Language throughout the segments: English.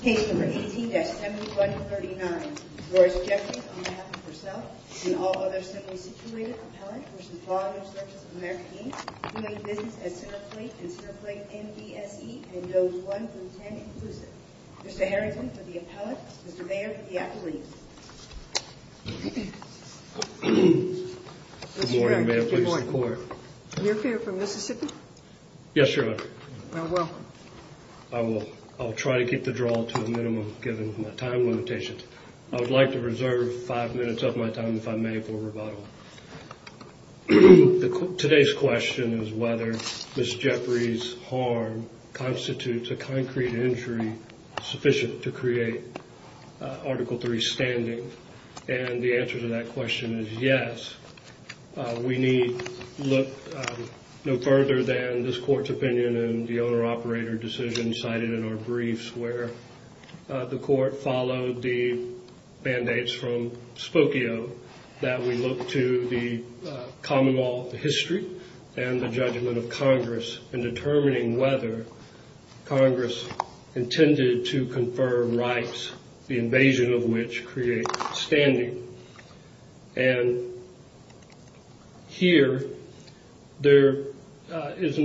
Case number 18-7139. Doris Jeffries, on behalf of herself and all others similarly situated, appellate versus Volume Services America, Inc., doing business as Centerplate and Centerplate NBSE and Does 1 Through 10, inclusive. Mr. Harrington, for the appellate. Mr. Mayer, for the appellate. Good morning, ma'am. Please report. Mayor Fair from Mississippi? Yes, Your Honor. I will. I will. I'll try to keep the draw to a minimum, given my time limitations. I would like to reserve five minutes of my time, if I may, for rebuttal. Today's question is whether Ms. Jeffries' harm constitutes a concrete injury sufficient to create Article III standing. And the answer to that question is yes. We need look no further than this court's opinion and the owner-operator decision cited in our briefs, where the court followed the mandates from Spokio that we look to the common law history and the judgment of Congress in determining whether Congress intended to confer rights, the invasion of which creates standing. And here, there is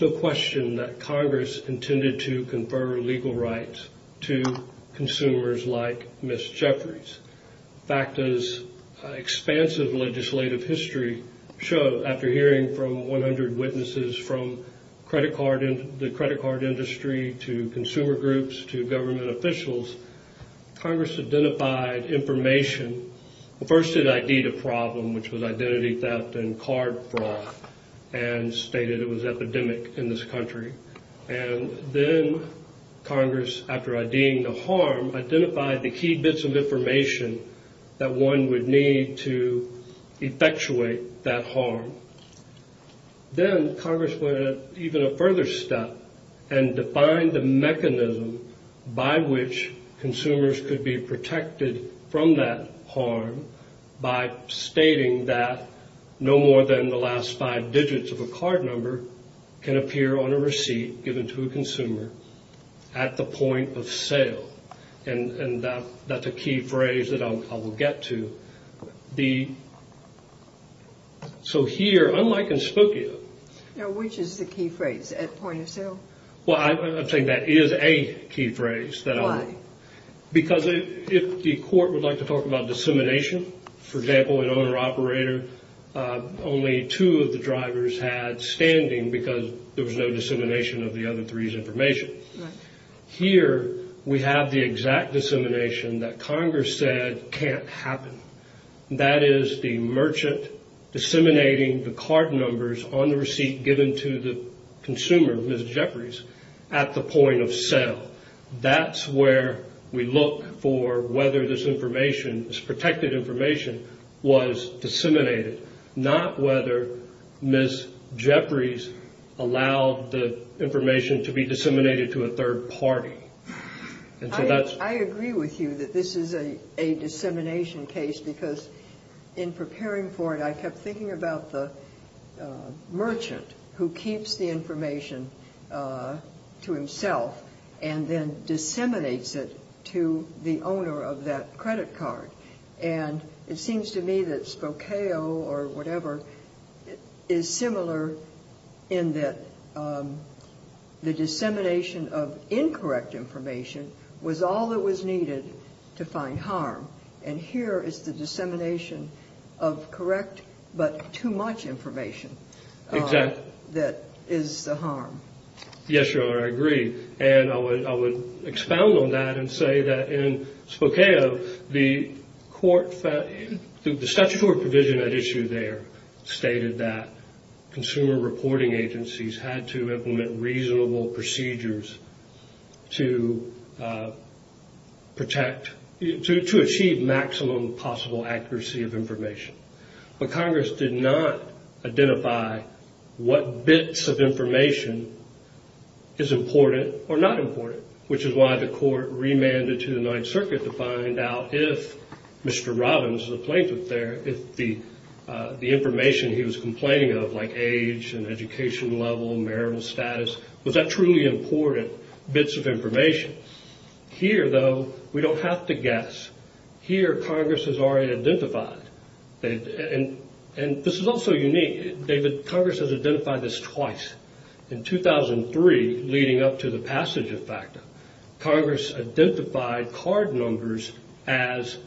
no question that Congress intended to confer legal rights to consumers like Ms. Jeffries. In fact, as expansive legislative history shows, after hearing from 100 witnesses from the credit card industry to consumer groups to government officials, Congress identified information. First, it ID'd a problem, which was identity theft and card fraud, and stated it was epidemic in this country. And then Congress, after IDing the harm, identified the key bits of information that one would need to effectuate that harm. Then Congress went even a further step and defined the mechanism by which consumers could be protected from that harm by stating that no more than the last five digits of a card number can appear on a receipt given to a consumer at the point of sale. And that's a key phrase that I will get to. So here, unlike in Spokio... Now, which is the key phrase, at point of sale? Well, I think that is a key phrase. Why? Because if the court would like to talk about dissemination, for example, an owner-operator, only two of the drivers had standing because there was no dissemination of the other three's information. Right. Here, we have the exact dissemination that Congress said can't happen. That is the merchant disseminating the card numbers on the receipt given to the consumer, Ms. Jeffries, at the point of sale. That's where we look for whether this information, this protected information, was disseminated. Not whether Ms. Jeffries allowed the information to be disseminated to a third party. I agree with you that this is a dissemination case because in preparing for it, I kept thinking about the merchant who keeps the information to himself and then disseminates it to the owner of that credit card. It seems to me that Spokio or whatever is similar in that the dissemination of incorrect information was all that was needed to find harm. Here is the dissemination of correct but too much information that is the harm. Yes, Your Honor, I agree. I would expound on that and say that in Spokio, the statutory provision at issue there stated that consumer reporting agencies had to implement reasonable procedures to achieve maximum possible accuracy of information. But Congress did not identify what bits of information is important or not important. Which is why the court remanded to the Ninth Circuit to find out if Mr. Robbins, the plaintiff there, if the information he was complaining of like age and education level, marital status, was that truly important bits of information. Here, though, we don't have to guess. Here, Congress has already identified. And this is also unique. David, Congress has identified this twice. In 2003, leading up to the passage of FACTA, Congress identified card numbers as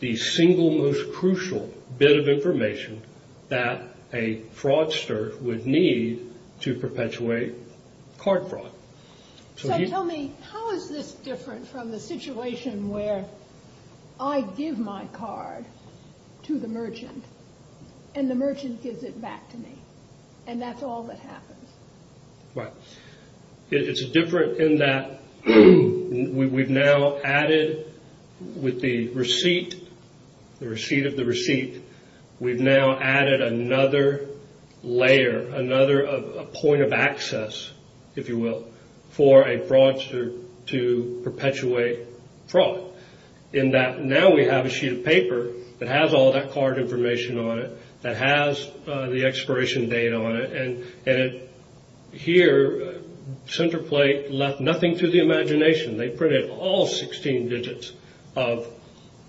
the single most crucial bit of information that a fraudster would need to perpetuate card fraud. So tell me, how is this different from the situation where I give my card to the merchant and the merchant gives it back to me and that's all that happens? It's different in that we've now added with the receipt, the receipt of the receipt, we've now added another layer, another point of access, if you will, for a fraudster to perpetuate fraud. In that now we have a sheet of paper that has all that card information on it, that has the expiration date on it. And here, Centerplate left nothing to the imagination. They printed all 16 digits of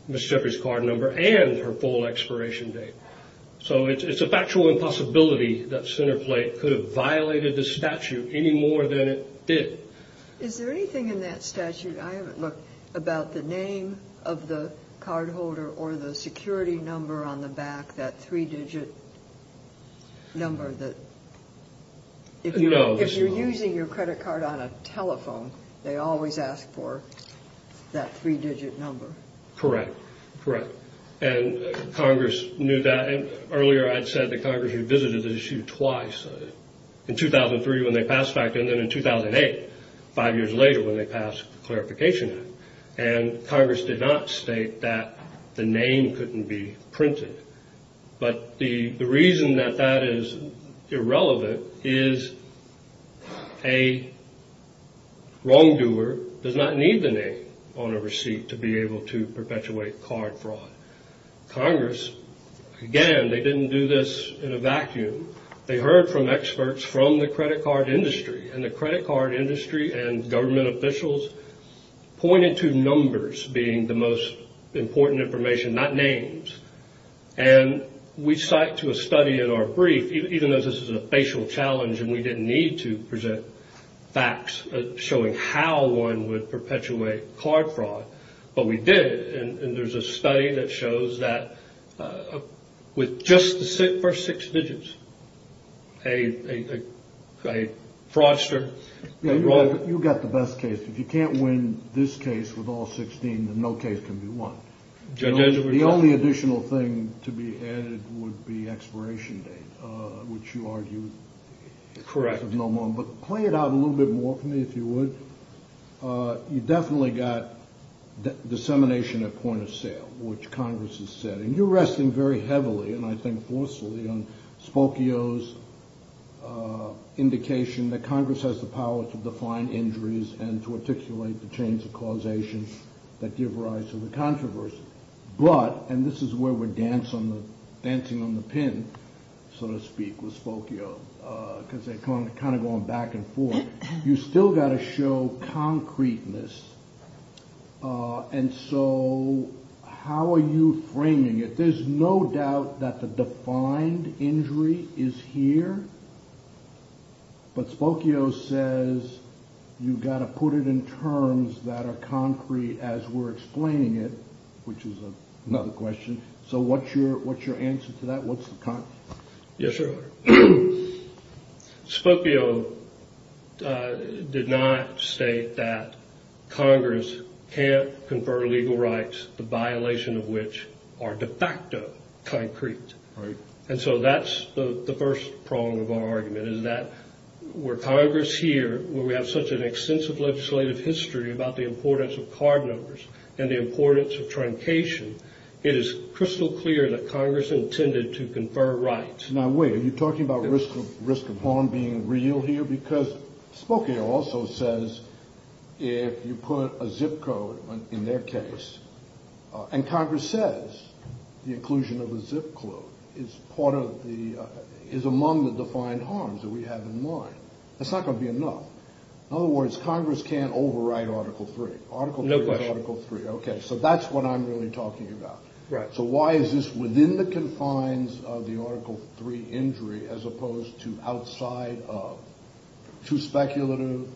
Ms. Jeffrey's card number and her full expiration date. So it's a factual impossibility that Centerplate could have violated the statute any more than it did. Is there anything in that statute, I haven't looked, about the name of the cardholder or the security number on the back, that three-digit number? If you're using your credit card on a telephone, they always ask for that three-digit number. Correct, correct. And Congress knew that. Five years later, when they passed the Clarification Act, and Congress did not state that the name couldn't be printed. But the reason that that is irrelevant is a wrongdoer does not need the name on a receipt to be able to perpetuate card fraud. Congress, again, they didn't do this in a vacuum. They heard from experts from the credit card industry. And the credit card industry and government officials pointed to numbers being the most important information, not names. And we cite to a study in our brief, even though this is a facial challenge and we didn't need to present facts showing how one would perpetuate card fraud, but we did. And there's a study that shows that with just the first six digits, a fraudster. You've got the best case. If you can't win this case with all 16, then no case can be won. The only additional thing to be added would be expiration date, which you argued. Correct. But play it out a little bit more for me, if you would. You definitely got dissemination at point of sale, which Congress is setting. You're resting very heavily, and I think forcefully, on Spokio's indication that Congress has the power to define injuries and to articulate the chains of causation that give rise to the controversy. But, and this is where we're dancing on the pin, so to speak, with Spokio, because they're kind of going back and forth. You've still got to show concreteness. And so how are you framing it? There's no doubt that the defined injury is here, but Spokio says you've got to put it in terms that are concrete as we're explaining it, which is another question. So what's your answer to that? Yes, sir. Spokio did not state that Congress can't confer legal rights, the violation of which are de facto concrete. And so that's the first prong of our argument, is that where Congress here, where we have such an extensive legislative history about the importance of card numbers and the importance of truncation, it is crystal clear that Congress intended to confer rights. Now, wait, are you talking about risk of harm being real here? Because Spokio also says if you put a zip code in their case, and Congress says the inclusion of a zip code is part of the, is among the defined harms that we have in mind, that's not going to be enough. In other words, Congress can't overwrite Article III. No question. Okay, so that's what I'm really talking about. So why is this within the confines of the Article III injury as opposed to outside of? Too speculative,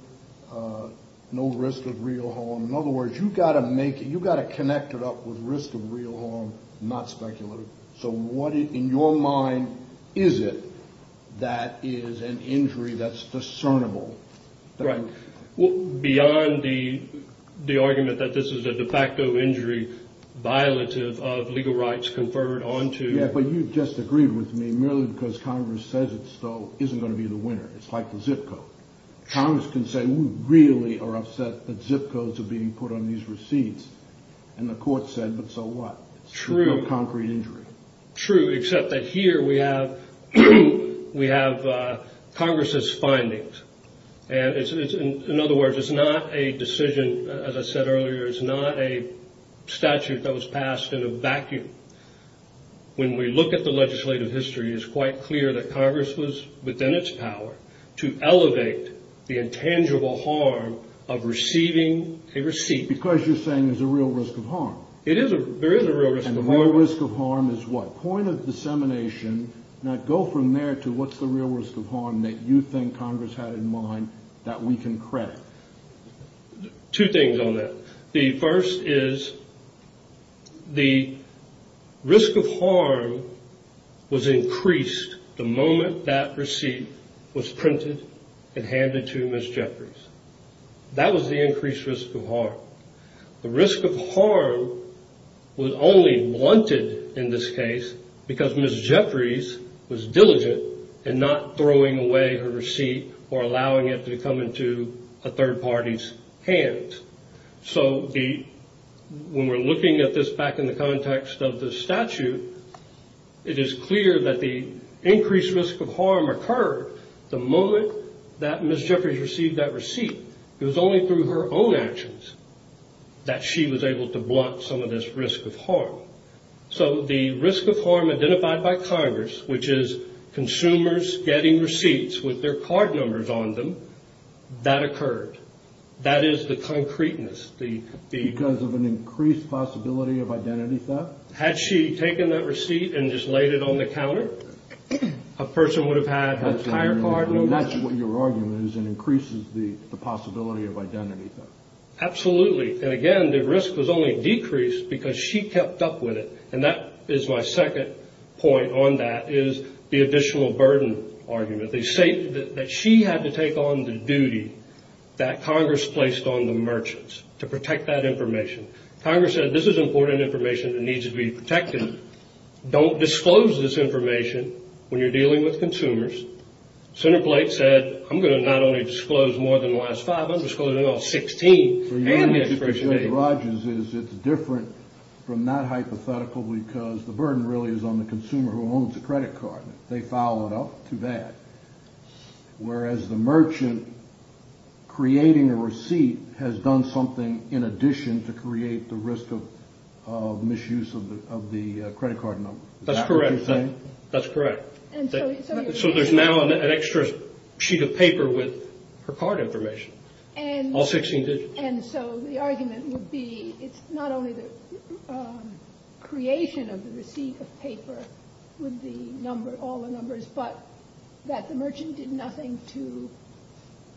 no risk of real harm. In other words, you've got to make it, you've got to connect it up with risk of real harm, not speculative. So what in your mind is it that is an injury that's discernible? Right. Beyond the argument that this is a de facto injury violative of legal rights conferred onto. Yeah, but you just agreed with me merely because Congress says it still isn't going to be the winner. It's like the zip code. Congress can say we really are upset that zip codes are being put on these receipts. And the court said, but so what? True. No concrete injury. True, except that here we have Congress's findings. In other words, it's not a decision, as I said earlier, it's not a statute that was passed in a vacuum. When we look at the legislative history, it's quite clear that Congress was within its power to elevate the intangible harm of receiving a receipt. Because you're saying there's a real risk of harm. There is a real risk of harm. A real risk of harm is what? Point of dissemination. Now, go from there to what's the real risk of harm that you think Congress had in mind that we can credit? Two things on that. The first is the risk of harm was increased the moment that receipt was printed and handed to Ms. Jeffries. That was the increased risk of harm. The risk of harm was only blunted in this case because Ms. Jeffries was diligent in not throwing away her receipt or allowing it to come into a third party's hands. So when we're looking at this back in the context of the statute, it is clear that the increased risk of harm occurred the moment that Ms. Jeffries received that receipt. It was only through her own actions that she was able to blunt some of this risk of harm. So the risk of harm identified by Congress, which is consumers getting receipts with their card numbers on them, that occurred. That is the concreteness. Because of an increased possibility of identity theft? Had she taken that receipt and just laid it on the counter, a person would have had entire card numbers. That's what your argument is. It increases the possibility of identity theft. Absolutely. And again, the risk was only decreased because she kept up with it. And that is my second point on that is the additional burden argument. They say that she had to take on the duty that Congress placed on the merchants to protect that information. Congress said this is important information that needs to be protected. Don't disclose this information when you're dealing with consumers. Senator Blake said, I'm going to not only disclose more than the last five, I'm going to disclose all 16. Your argument, Judge Rogers, is it's different from that hypothetical because the burden really is on the consumer who owns the credit card. They foul it up. Too bad. Whereas the merchant creating a receipt has done something in addition to create the risk of misuse of the credit card number. Is that what you're saying? That's correct. So there's now an extra sheet of paper with her card information. All 16 digits. And so the argument would be it's not only the creation of the receipt of paper with the number, all the numbers, but that the merchant did nothing to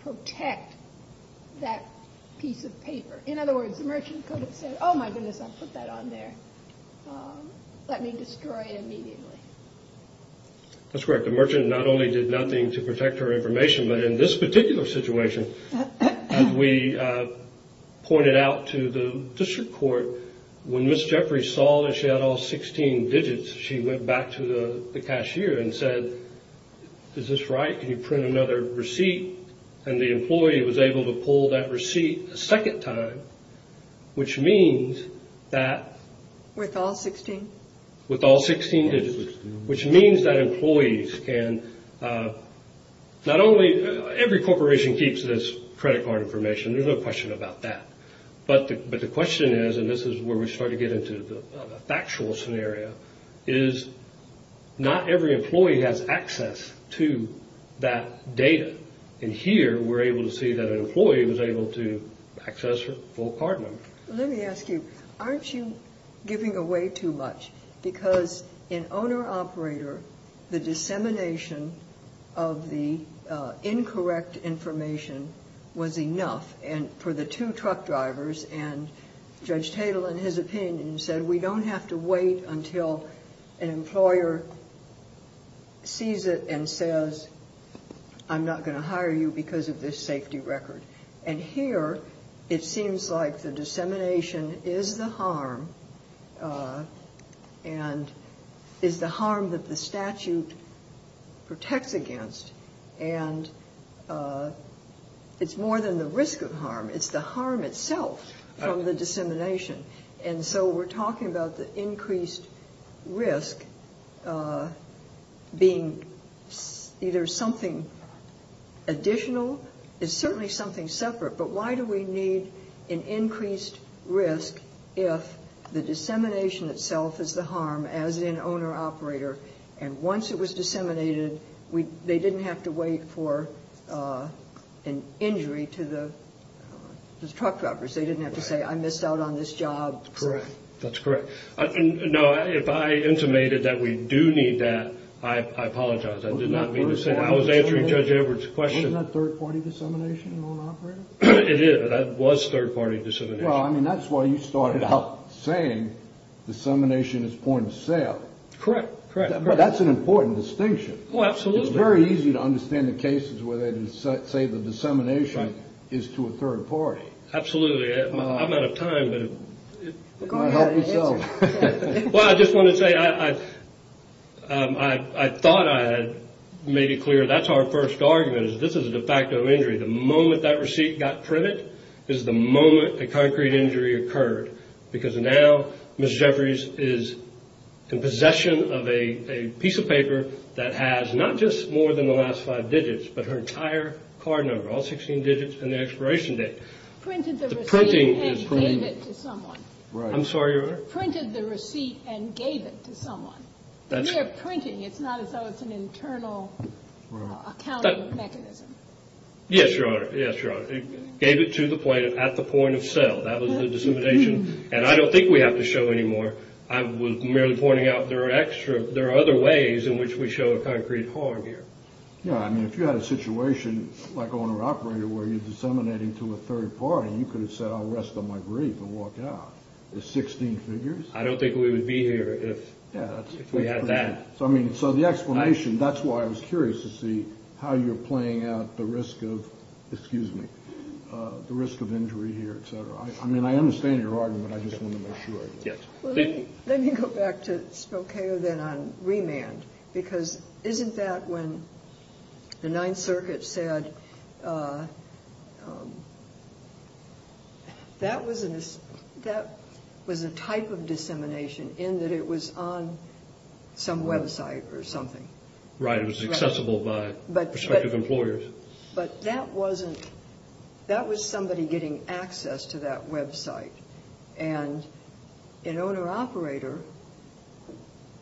protect that piece of paper. In other words, the merchant could have said, oh, my goodness, I put that on there. Let me destroy it immediately. That's correct. The merchant not only did nothing to protect her information, but in this particular situation, as we pointed out to the district court, when Ms. Jeffrey saw that she had all 16 digits, she went back to the cashier and said, is this right? Can you print another receipt? And the employee was able to pull that receipt a second time, which means that. With all 16? With all 16 digits. Which means that employees can not only – every corporation keeps this credit card information. There's no question about that. But the question is, and this is where we start to get into the factual scenario, is not every employee has access to that data. And here we're able to see that an employee was able to access her full card number. Let me ask you, aren't you giving away too much? Because in owner-operator, the dissemination of the incorrect information was enough for the two truck drivers, and Judge Tatel, in his opinion, said we don't have to wait until an employer sees it and says, I'm not going to hire you because of this safety record. And here it seems like the dissemination is the harm, and is the harm that the statute protects against. And it's more than the risk of harm. It's the harm itself from the dissemination. And so we're talking about the increased risk being either something additional. It's certainly something separate. But why do we need an increased risk if the dissemination itself is the harm, as in owner-operator, and once it was disseminated, they didn't have to wait for an injury to the truck drivers. They didn't have to say, I missed out on this job. Correct. That's correct. Now, if I intimated that we do need that, I apologize. I did not mean to say that. I was answering Judge Edwards' question. Wasn't that third-party dissemination in owner-operator? It is. That was third-party dissemination. Well, I mean, that's why you started out saying dissemination is point of sale. Correct, correct. That's an important distinction. Well, absolutely. It's very easy to understand the cases where they say the dissemination is to a third party. Absolutely. I'm out of time. Go ahead. Answer. Well, I just want to say, I thought I had made it clear, that's our first argument. This is a de facto injury. The moment that receipt got printed is the moment a concrete injury occurred. Because now Ms. Jeffries is in possession of a piece of paper that has not just more than the last five digits, but her entire card number, all 16 digits and the expiration date. Printed the receipt and gave it to someone. I'm sorry, Your Honor? Printed the receipt and gave it to someone. We are printing. It's not as though it's an internal accounting mechanism. Yes, Your Honor. Gave it to the plaintiff at the point of sale. That was the dissemination. And I don't think we have to show any more. I was merely pointing out there are other ways in which we show a concrete harm here. Yeah, I mean, if you had a situation like owner-operator where you're disseminating to a third party, you could have said, I'll rest on my grave and walk out. There's 16 figures. I don't think we would be here if we had that. So the explanation, that's why I was curious to see how you're playing out the risk of injury here, et cetera. I mean, I understand your argument. I just want to make sure. Yes. Let me go back to Spokeo then on remand, because isn't that when the Ninth Circuit said that was a type of dissemination in that it was on some website or something? Right. It was accessible by prospective employers. But that was somebody getting access to that website. And in owner-operator,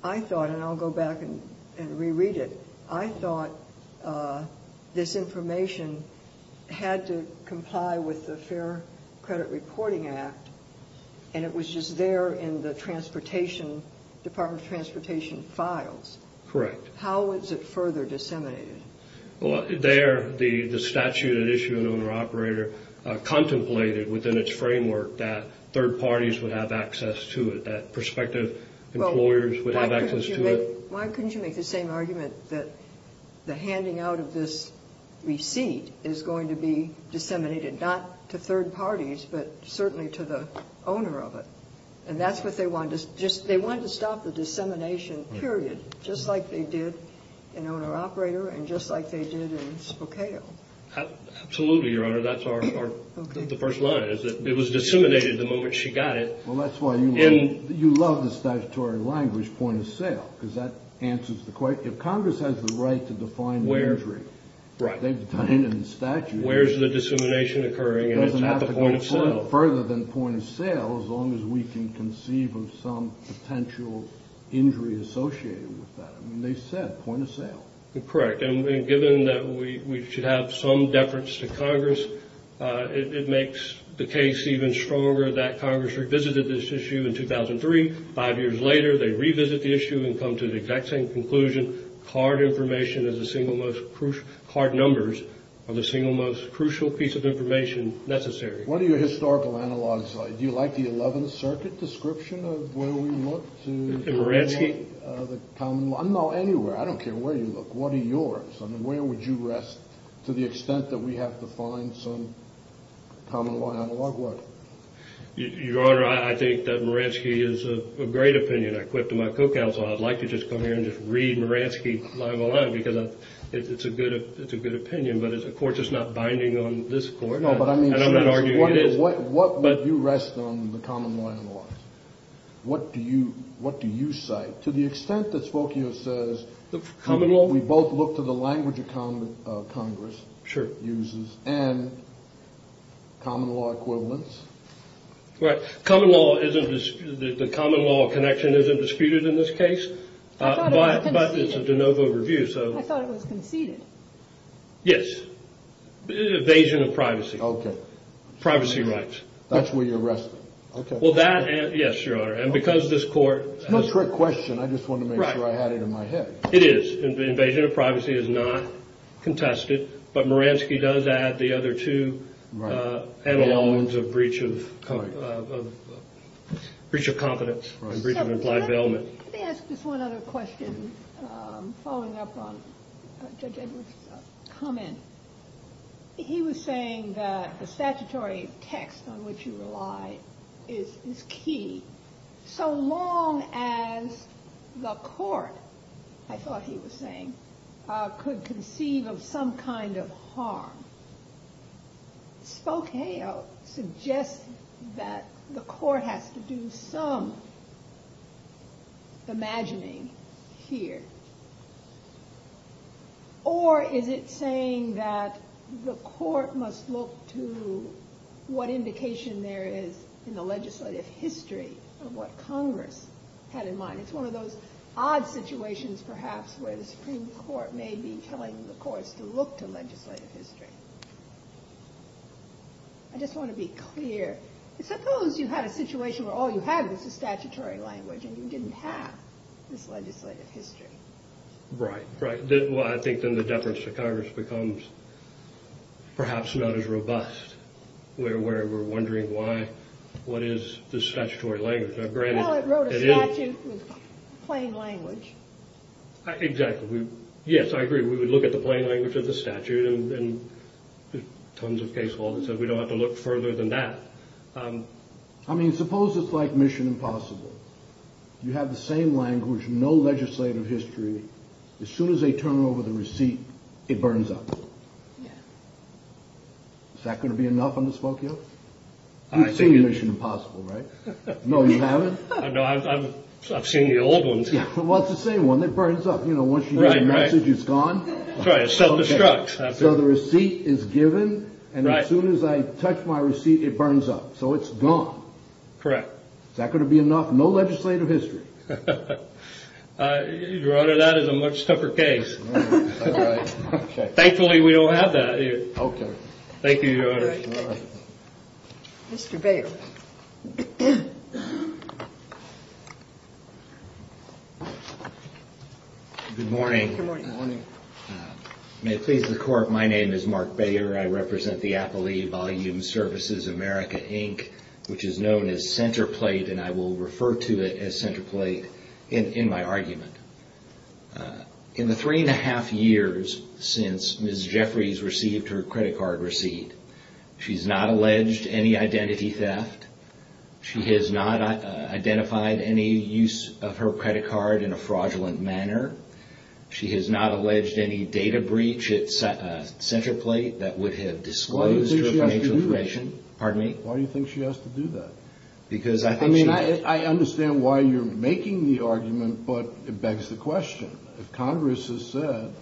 I thought, and I'll go back and reread it, I thought this information had to comply with the Fair Credit Reporting Act, and it was just there in the Department of Transportation files. Correct. How was it further disseminated? Well, there the statute had issued an owner-operator contemplated within its framework that third parties would have access to it, that prospective employers would have access to it. Well, why couldn't you make the same argument that the handing out of this receipt is going to be disseminated, not to third parties, but certainly to the owner of it? And that's what they wanted. They wanted to stop the dissemination, period, just like they did in owner-operator and just like they did in Spokeo. Absolutely, Your Honor. That's the first line, is that it was disseminated the moment she got it. Well, that's why you love the statutory language, point of sale, because that answers the question. If Congress has the right to define the injury, they've done it in the statute. Where is the dissemination occurring? It doesn't have to go further than point of sale, as long as we can conceive of some potential injury associated with that. I mean, they said point of sale. Correct. And given that we should have some deference to Congress, it makes the case even stronger that Congress revisited this issue in 2003. Five years later, they revisit the issue and come to the exact same conclusion. Card information is the single most crucial. Card numbers are the single most crucial piece of information necessary. What do your historical analogs like? Do you like the Eleventh Circuit description of where we look to the common law? Moransky? No, anywhere. I don't care where you look. What are yours? I mean, where would you rest to the extent that we have to find some common law analog? What? Your Honor, I think that Moransky is a great opinion. I quit to my co-counsel. I'd like to just come here and just read Moransky line by line because it's a good opinion, but it's a court that's not binding on this court. No, but I mean, what would you rest on the common law analogs? What do you cite to the extent that Spokio says we both look to the language of Congress uses and common law equivalents? Right. Common law, the common law connection isn't disputed in this case, but it's a de novo review. I thought it was conceded. Yes. Evasion of privacy. Okay. Privacy rights. That's where you're resting. Okay. Yes, Your Honor, and because this court- It's my trick question. I just wanted to make sure I had it in my head. It is. Evasion of privacy is not contested, but Moransky does add the other two analogs of breach of confidence, breach of implied development. Let me ask just one other question following up on Judge Edwards' comment. He was saying that the statutory text on which you rely is key. So long as the court, I thought he was saying, could conceive of some kind of harm, Spokeo suggests that the court has to do some imagining here, or is it saying that the court must look to what indication there is in the legislative history of what Congress had in mind? It's one of those odd situations perhaps where the Supreme Court may be telling the courts to look to legislative history. I just want to be clear. Suppose you had a situation where all you had was the statutory language, and you didn't have this legislative history. Right. Well, I think then the deference to Congress becomes perhaps not as robust, where we're wondering what is the statutory language. Well, it wrote a statute with plain language. Exactly. Yes, I agree. We would look at the plain language of the statute, and there are tons of case laws that said we don't have to look further than that. I mean, suppose it's like Mission Impossible. You have the same language, no legislative history. As soon as they turn over the receipt, it burns up. Yes. Is that going to be enough on the Spokeo? You've seen Mission Impossible, right? No, you haven't? No, I've seen the old ones. Well, it's the same one. It burns up. Once you get a message, it's gone. It self-destructs. So the receipt is given, and as soon as I touch my receipt, it burns up. So it's gone. Correct. Is that going to be enough? No legislative history. Your Honor, that is a much tougher case. Thankfully, we don't have that. Okay. Thank you, Your Honor. Mr. Baier. Good morning. Good morning. May it please the Court, my name is Mark Baier. I represent the Appalachian Volumes Services America, Inc., which is known as Centerplate, and I will refer to it as Centerplate in my argument. In the three-and-a-half years since Ms. Jeffries received her credit card receipt, she's not alleged any identity theft. She has not identified any use of her credit card in a fraudulent manner. She has not alleged any data breach at Centerplate that would have disclosed her financial information. Why do you think she has to do that? Pardon me? Why do you think she has to do that? I mean, I understand why you're making the argument, but it begs the question. If Congress has said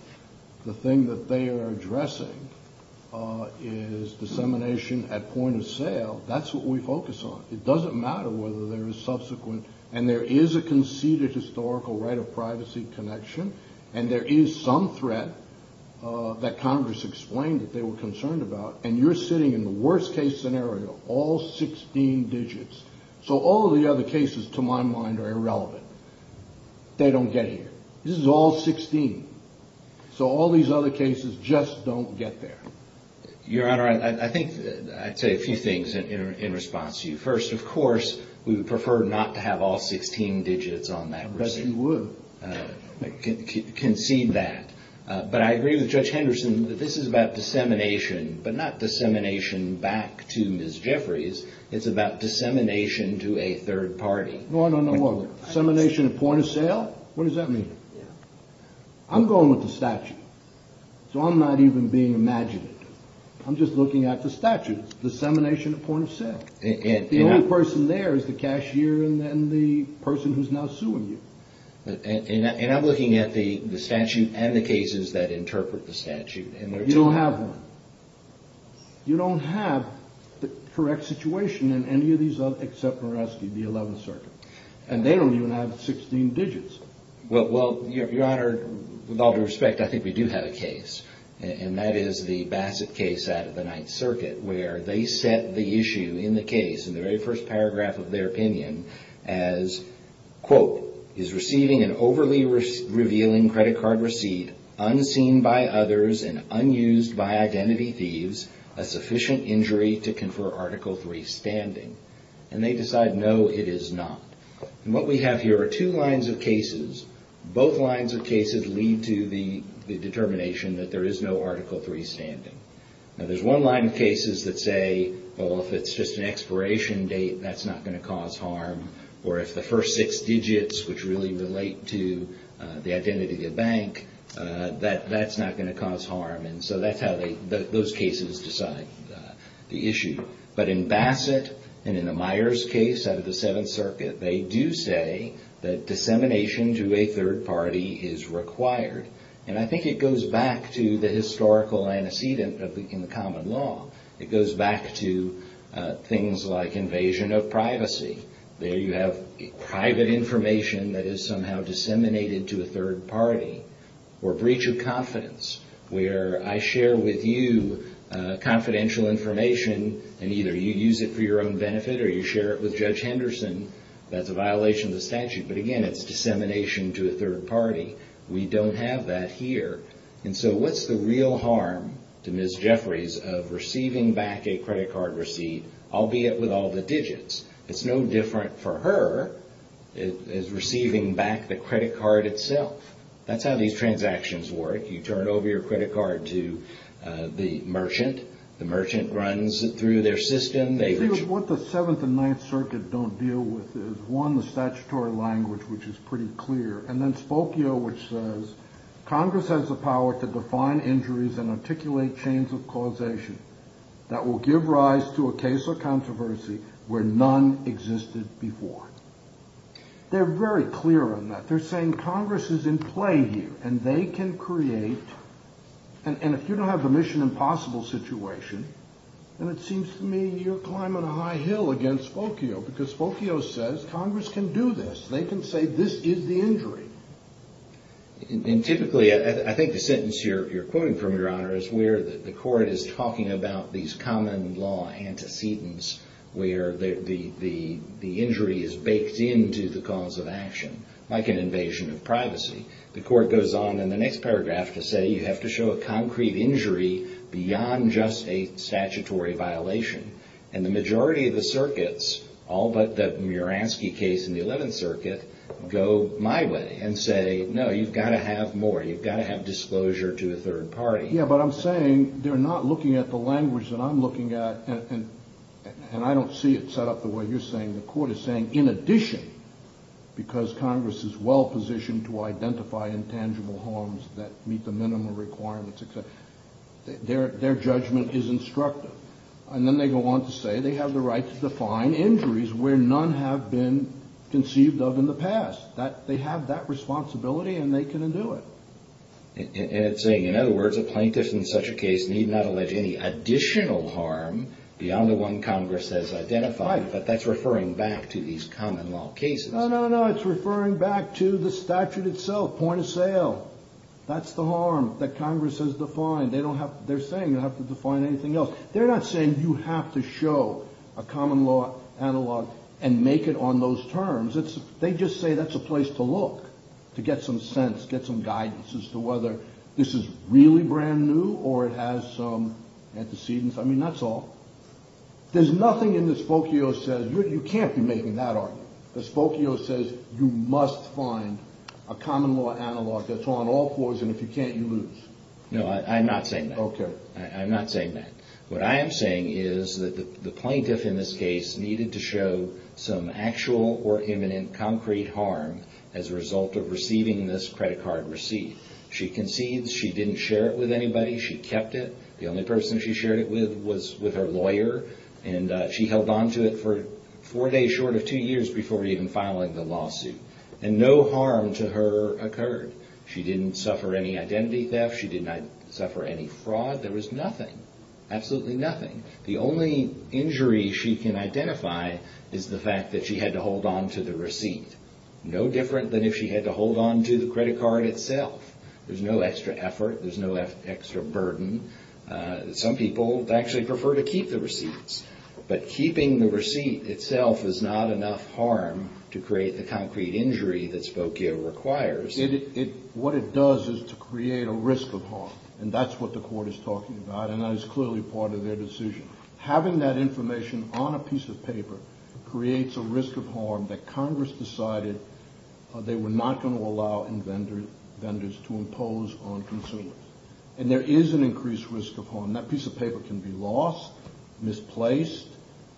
the thing that they are addressing is dissemination at point of sale, that's what we focus on. It doesn't matter whether there is subsequent, and there is a conceded historical right of privacy connection, and there is some threat that Congress explained that they were concerned about, and you're sitting in the worst-case scenario, all 16 digits. So all of the other cases, to my mind, are irrelevant. They don't get here. This is all 16. So all these other cases just don't get there. Your Honor, I think I'd say a few things in response to you. First, of course, we would prefer not to have all 16 digits on that receipt. Of course you would. Concede that. But I agree with Judge Henderson that this is about dissemination, but not dissemination back to Ms. Jeffries. It's about dissemination to a third party. No, no, no. What, dissemination at point of sale? What does that mean? I'm going with the statute, so I'm not even being imaginative. I'm just looking at the statute. It's dissemination at point of sale. The only person there is the cashier and then the person who's now suing you. And I'm looking at the statute and the cases that interpret the statute. You don't have one. You don't have the correct situation in any of these other except for the 11th Circuit. And they don't even have 16 digits. Well, Your Honor, with all due respect, I think we do have a case, and that is the Bassett case out of the 9th Circuit, where they set the issue in the case, in the very first paragraph of their opinion, as, quote, is receiving an overly revealing credit card receipt, unseen by others and unused by identity thieves, a sufficient injury to confer Article III standing? And they decide no, it is not. And what we have here are two lines of cases. Both lines of cases lead to the determination that there is no Article III standing. Now, there's one line of cases that say, well, if it's just an expiration date, that's not going to cause harm. Or if the first six digits, which really relate to the identity of the bank, that's not going to cause harm. And so that's how those cases decide the issue. But in Bassett and in the Myers case out of the 7th Circuit, they do say that dissemination to a third party is required. And I think it goes back to the historical antecedent in the common law. It goes back to things like invasion of privacy. There you have private information that is somehow disseminated to a third party. Or breach of confidence, where I share with you confidential information, and either you use it for your own benefit or you share it with Judge Henderson, that's a violation of the statute. But again, it's dissemination to a third party. We don't have that here. And so what's the real harm to Ms. Jeffries of receiving back a credit card receipt, albeit with all the digits? It's no different for her as receiving back the credit card itself. That's how these transactions work. You turn over your credit card to the merchant. The merchant runs through their system. I think what the 7th and 9th Circuit don't deal with is, one, the statutory language, which is pretty clear, and then Spokio, which says, Congress has the power to define injuries and articulate chains of causation that will give rise to a case of controversy where none existed before. They're very clear on that. They're saying Congress is in play here, and they can create. And if you don't have a mission impossible situation, then it seems to me you're climbing a high hill against Spokio, because Spokio says Congress can do this. They can say this is the injury. And typically, I think the sentence you're quoting from, Your Honor, is where the court is talking about these common law antecedents where the injury is baked into the cause of action, like an invasion of privacy. The court goes on in the next paragraph to say you have to show a concrete injury beyond just a statutory violation. And the majority of the circuits, all but the Muransky case in the 11th Circuit, go my way and say, no, you've got to have more. You've got to have disclosure to a third party. Yeah, but I'm saying they're not looking at the language that I'm looking at. And I don't see it set up the way you're saying. The court is saying in addition, because Congress is well positioned to identify intangible harms that meet the minimum requirements, their judgment is instructive. And then they go on to say they have the right to define injuries where none have been conceived of in the past. They have that responsibility, and they can undo it. And it's saying, in other words, a plaintiff in such a case need not allege any additional harm beyond the one Congress has identified. But that's referring back to these common law cases. No, no, no, it's referring back to the statute itself, point of sale. That's the harm that Congress has defined. They're saying you don't have to define anything else. They're not saying you have to show a common law analog and make it on those terms. They just say that's a place to look to get some sense, get some guidance as to whether this is really brand new or it has some antecedents. I mean, that's all. There's nothing in the Spokio says you can't be making that argument. The Spokio says you must find a common law analog that's on all fours, and if you can't, you lose. No, I'm not saying that. Okay. I'm not saying that. What I am saying is that the plaintiff in this case needed to show some actual or imminent concrete harm as a result of receiving this credit card receipt. She concedes she didn't share it with anybody. She kept it. The only person she shared it with was with her lawyer, and she held on to it for four days short of two years before even filing the lawsuit. And no harm to her occurred. She didn't suffer any identity theft. She did not suffer any fraud. There was nothing, absolutely nothing. The only injury she can identify is the fact that she had to hold on to the receipt. No different than if she had to hold on to the credit card itself. There's no extra effort. There's no extra burden. Some people actually prefer to keep the receipts, but keeping the receipt itself is not enough harm to create the concrete injury that Spokio requires. What it does is to create a risk of harm, and that's what the Court is talking about, and that is clearly part of their decision. Having that information on a piece of paper creates a risk of harm that Congress decided they were not going to allow vendors to impose on consumers. And there is an increased risk of harm. That piece of paper can be lost, misplaced.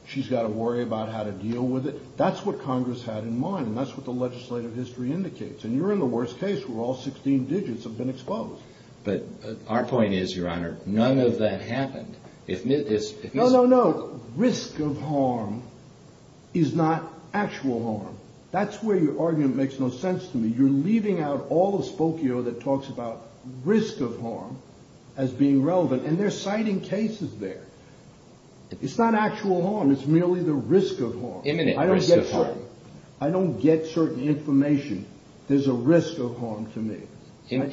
She's got to worry about how to deal with it. That's what Congress had in mind, and that's what the legislative history indicates. And you're in the worst case where all 16 digits have been exposed. But our point is, Your Honor, none of that happened. No, no, no. Risk of harm is not actual harm. That's where your argument makes no sense to me. You're leaving out all of Spokio that talks about risk of harm as being relevant, and they're citing cases there. It's not actual harm. It's merely the risk of harm. Imminent risk of harm. I don't get certain information. There's a risk of harm to me.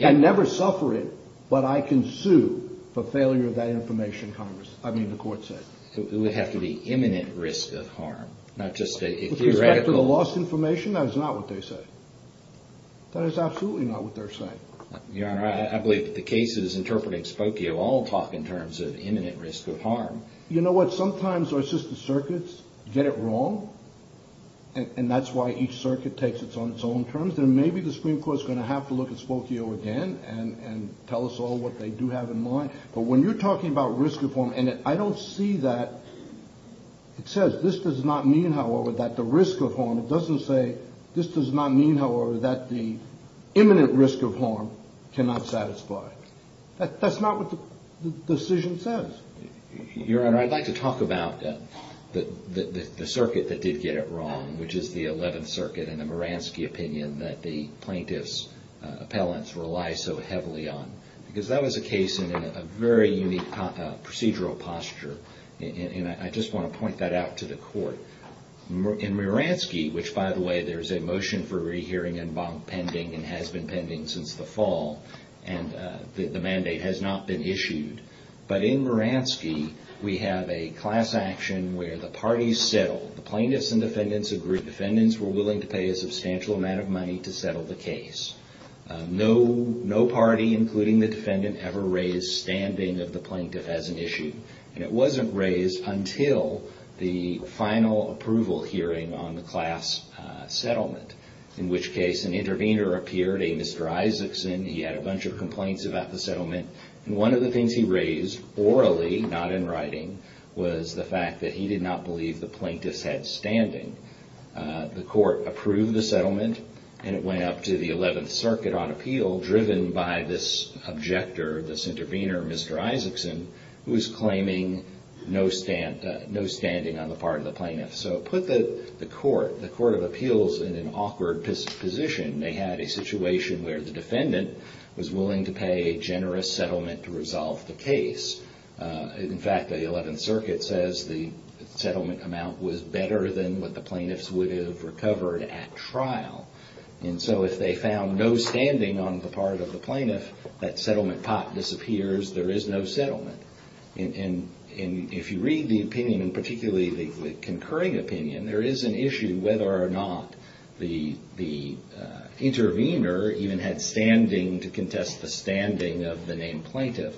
I never suffer it, but I can sue for failure of that information, the court said. It would have to be imminent risk of harm, not just a theoretical. With respect to the lost information, that is not what they say. That is absolutely not what they're saying. Your Honor, I believe that the cases interpreting Spokio all talk in terms of imminent risk of harm. You know what? Sometimes our assistant circuits get it wrong, and that's why each circuit takes it on its own terms. I think that maybe the Supreme Court is going to have to look at Spokio again and tell us all what they do have in mind. But when you're talking about risk of harm, and I don't see that. It says this does not mean, however, that the risk of harm. It doesn't say this does not mean, however, that the imminent risk of harm cannot satisfy. That's not what the decision says. Your Honor, I'd like to talk about the circuit that did get it wrong, which is the Eleventh Circuit and the Moransky opinion that the plaintiff's appellants rely so heavily on. Because that was a case in a very unique procedural posture, and I just want to point that out to the court. In Moransky, which, by the way, there's a motion for rehearing pending and has been pending since the fall, and the mandate has not been issued. But in Moransky, we have a class action where the parties settle. The plaintiffs and defendants agree. Defendants were willing to pay a substantial amount of money to settle the case. No party, including the defendant, ever raised standing of the plaintiff as an issue. And it wasn't raised until the final approval hearing on the class settlement, in which case an intervener appeared, a Mr. Isaacson. He had a bunch of complaints about the settlement. And one of the things he raised, orally, not in writing, was the fact that he did not believe the plaintiffs had standing. The court approved the settlement, and it went up to the Eleventh Circuit on appeal, driven by this objector, this intervener, Mr. Isaacson, who was claiming no standing on the part of the plaintiff. So put the court, the Court of Appeals, in an awkward position. They had a situation where the defendant was willing to pay a generous settlement to resolve the case. In fact, the Eleventh Circuit says the settlement amount was better than what the plaintiffs would have recovered at trial. And so if they found no standing on the part of the plaintiff, that settlement pot disappears. There is no settlement. And if you read the opinion, and particularly the concurring opinion, there is an issue whether or not the intervener even had standing to contest the standing of the named plaintiff.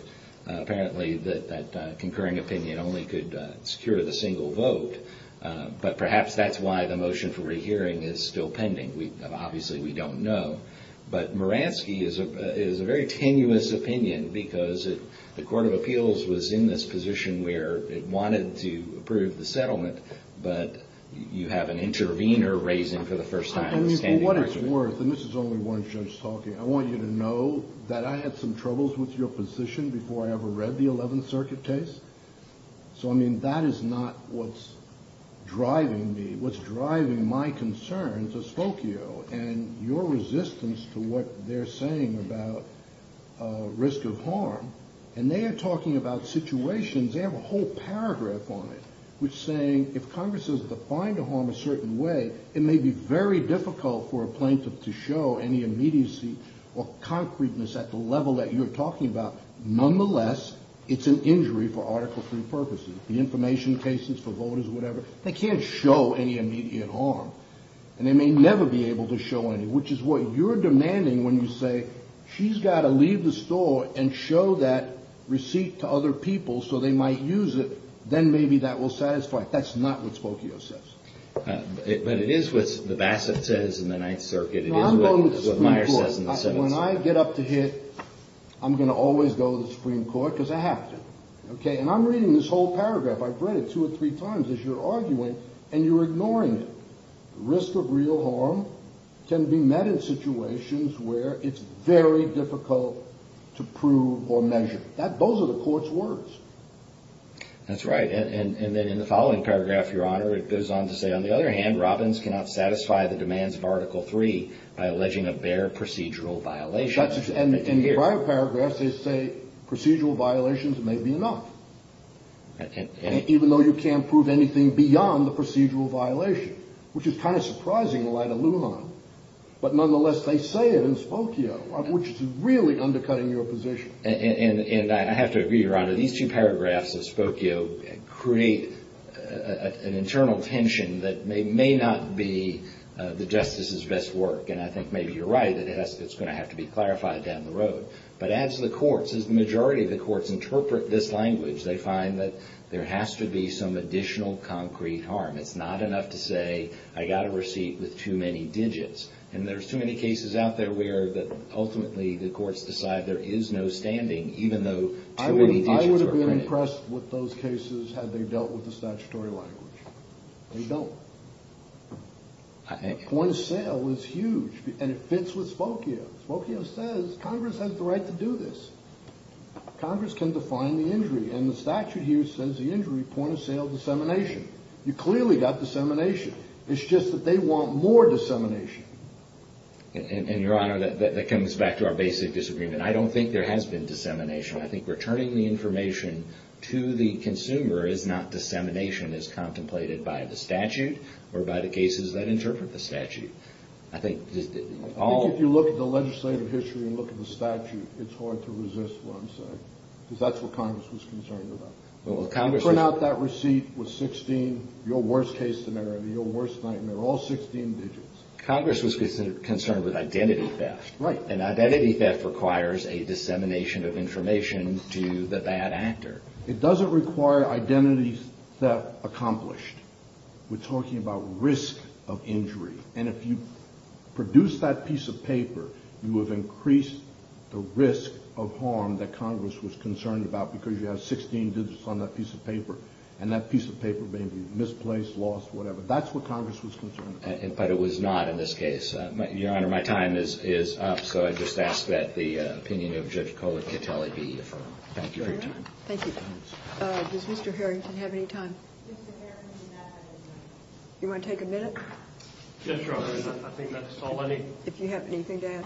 Apparently, that concurring opinion only could secure the single vote. But perhaps that's why the motion for rehearing is still pending. Obviously, we don't know. But Moransky is a very tenuous opinion because the Court of Appeals was in this position where it wanted to approve the settlement, but you have an intervener raising, for the first time, a standing argument. I mean, for what it's worth, and this is only one judge talking, I want you to know that I had some troubles with your position before I ever read the Eleventh Circuit case. So, I mean, that is not what's driving me, what's driving my concern to Spokio. And your resistance to what they're saying about risk of harm, and they are talking about situations, they have a whole paragraph on it, which is saying if Congress is defined to harm a certain way, it may be very difficult for a plaintiff to show any immediacy or concreteness at the level that you're talking about. Nonetheless, it's an injury for Article III purposes. The information cases for voters, whatever, they can't show any immediate harm. And they may never be able to show any, which is what you're demanding when you say she's got to leave the store and show that receipt to other people so they might use it. Then maybe that will satisfy it. That's not what Spokio says. But it is what the Bassett says in the Ninth Circuit. It is what Meyer says in the Seventh Circuit. When I get up to hit, I'm going to always go to the Supreme Court because I have to. Okay, and I'm reading this whole paragraph. I've read it two or three times as you're arguing, and you're ignoring it. Risk of real harm can be met in situations where it's very difficult to prove or measure. Those are the court's words. That's right. And then in the following paragraph, Your Honor, it goes on to say, on the other hand, Robbins cannot satisfy the demands of Article III by alleging a bare procedural violation. In the prior paragraph, they say procedural violations may be enough, even though you can't prove anything beyond the procedural violation, which is kind of surprising and a lot of aluminum. But nonetheless, they say it in Spokio, which is really undercutting your position. And I have to agree, Your Honor. These two paragraphs of Spokio create an internal tension that may not be the justice's best work. And I think maybe you're right that it's going to have to be clarified down the road. But as the majority of the courts interpret this language, they find that there has to be some additional concrete harm. It's not enough to say, I got a receipt with too many digits. And there's too many cases out there where ultimately the courts decide there is no standing, even though too many digits are printed. I would have been impressed with those cases had they dealt with the statutory language. They don't. Point of sale is huge, and it fits with Spokio. Spokio says Congress has the right to do this. Congress can define the injury. And the statute here says the injury, point of sale, dissemination. You clearly got dissemination. It's just that they want more dissemination. And, Your Honor, that comes back to our basic disagreement. I don't think there has been dissemination. I think returning the information to the consumer is not dissemination, but dissemination is contemplated by the statute or by the cases that interpret the statute. I think just all of you look at the legislative history and look at the statute, it's hard to resist what I'm saying, because that's what Congress was concerned about. Well, Congress. Print out that receipt with 16, your worst case scenario, your worst nightmare, all 16 digits. Congress was concerned with identity theft. Right. And identity theft requires a dissemination of information to the bad actor. It doesn't require identity theft accomplished. We're talking about risk of injury. And if you produce that piece of paper, you have increased the risk of harm that Congress was concerned about, because you have 16 digits on that piece of paper. And that piece of paper may be misplaced, lost, whatever. That's what Congress was concerned about. But it was not in this case. Your Honor, my time is up. So I just ask that the opinion of Judge Kohler-Catelli be affirmed. Thank you for your time. Thank you. Does Mr. Harrington have any time? Mr. Harrington does not have any time. You want to take a minute? Yes, Your Honor. I think that's all I need. If you have anything to add.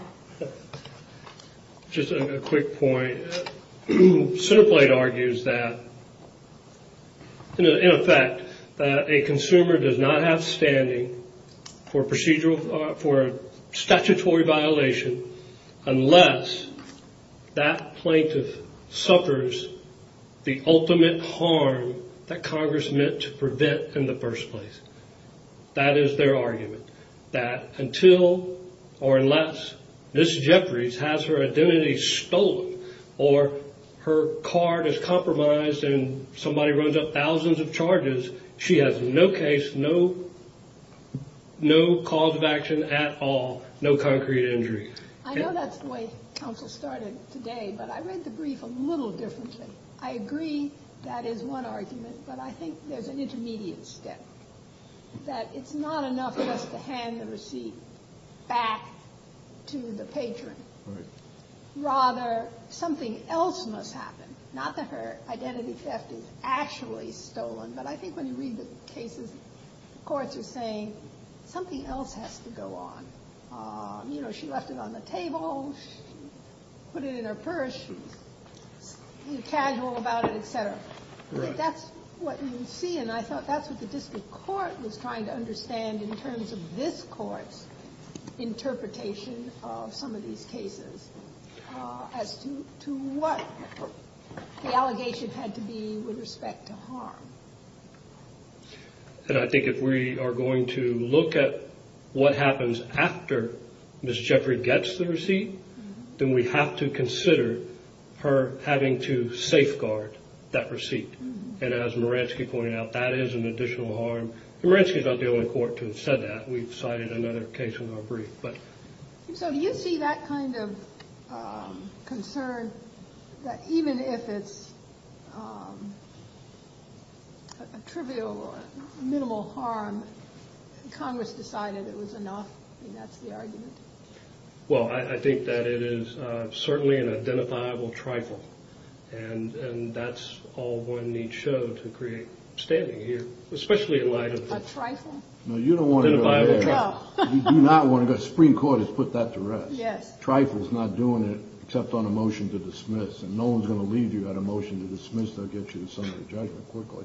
Just a quick point. Centerplate argues that, in effect, that a consumer does not have standing for procedural or for statutory violation unless that plaintiff suffers the ultimate harm that Congress meant to prevent in the first place. That is their argument, that until or unless Ms. Jeffries has her identity stolen or her card is compromised and somebody runs up thousands of charges, she has no cause of action. At all. No concrete injury. I know that's the way counsel started today, but I read the brief a little differently. I agree that is one argument, but I think there's an intermediate step. That it's not enough just to hand the receipt back to the patron. Right. Rather, something else must happen. Not that her identity theft is actually stolen, but I think when you read the cases, courts are saying something else has to go on. You know, she left it on the table. She put it in her purse. She's casual about it, et cetera. That's what you see, and I thought that's what the district court was trying to understand in terms of this court's interpretation of some of these cases as to what the allegation had to be with respect to harm. And I think if we are going to look at what happens after Ms. Jeffrey gets the receipt, then we have to consider her having to safeguard that receipt. And as Maransky pointed out, that is an additional harm. And Maransky's not the only court to have said that. We've cited another case in our brief. So do you see that kind of concern that even if it's a trivial or minimal harm, Congress decided it was enough? I mean, that's the argument. Well, I think that it is certainly an identifiable trifle, and that's all one needs show to create standing here, especially in light of this. A trifle? No, you don't want to go there. You do not want to go. The Supreme Court has put that to rest. Yes. A trifle is not doing it except on a motion to dismiss, and no one's going to leave you on a motion to dismiss. They'll get you on summary judgment quickly.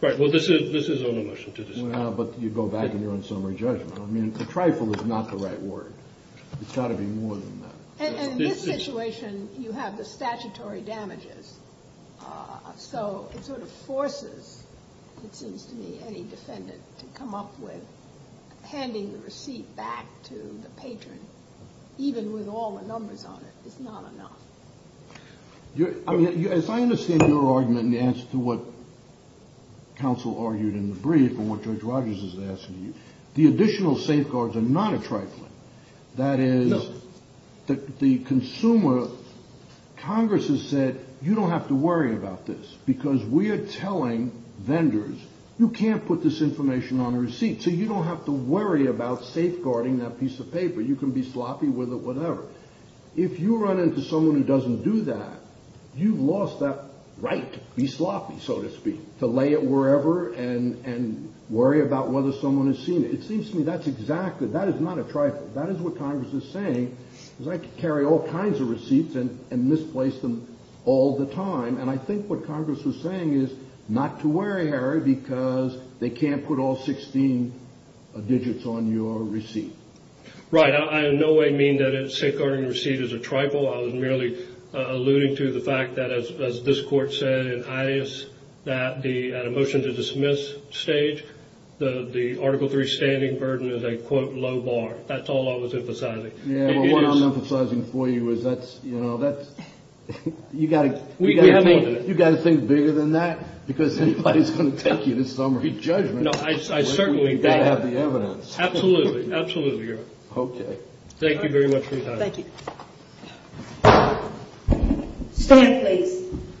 Right. Well, this is on a motion to dismiss. Well, but you go back and you're on summary judgment. I mean, a trifle is not the right word. It's got to be more than that. In this situation, you have the statutory damages, so it sort of forces, it seems to me, any defendant to come up with handing the receipt back to the patron, even with all the numbers on it. It's not enough. I mean, as I understand your argument and the answer to what counsel argued in the brief and what Judge Rogers has asked of you, the additional safeguards are not a trifle. No. Because the consumer, Congress has said, you don't have to worry about this because we are telling vendors, you can't put this information on a receipt, so you don't have to worry about safeguarding that piece of paper. You can be sloppy with it, whatever. If you run into someone who doesn't do that, you've lost that right to be sloppy, so to speak, to lay it wherever and worry about whether someone has seen it. It seems to me that's exactly, that is not a trifle. That is what Congress is saying, is I can carry all kinds of receipts and misplace them all the time, and I think what Congress was saying is not to worry, Harry, because they can't put all 16 digits on your receipt. Right. I in no way mean that a safeguarding receipt is a trifle. I was merely alluding to the fact that, as this Court said, at a motion to dismiss stage, the Article III standing burden is a, quote, low bar. That's all I was emphasizing. Yeah, well, what I'm emphasizing for you is that's, you know, that's, you've got to think bigger than that, because anybody's going to take you to summary judgment. No, I certainly do. You've got to have the evidence. Absolutely. Absolutely, Your Honor. Okay. Thank you very much for your time. Thank you. Stand, please.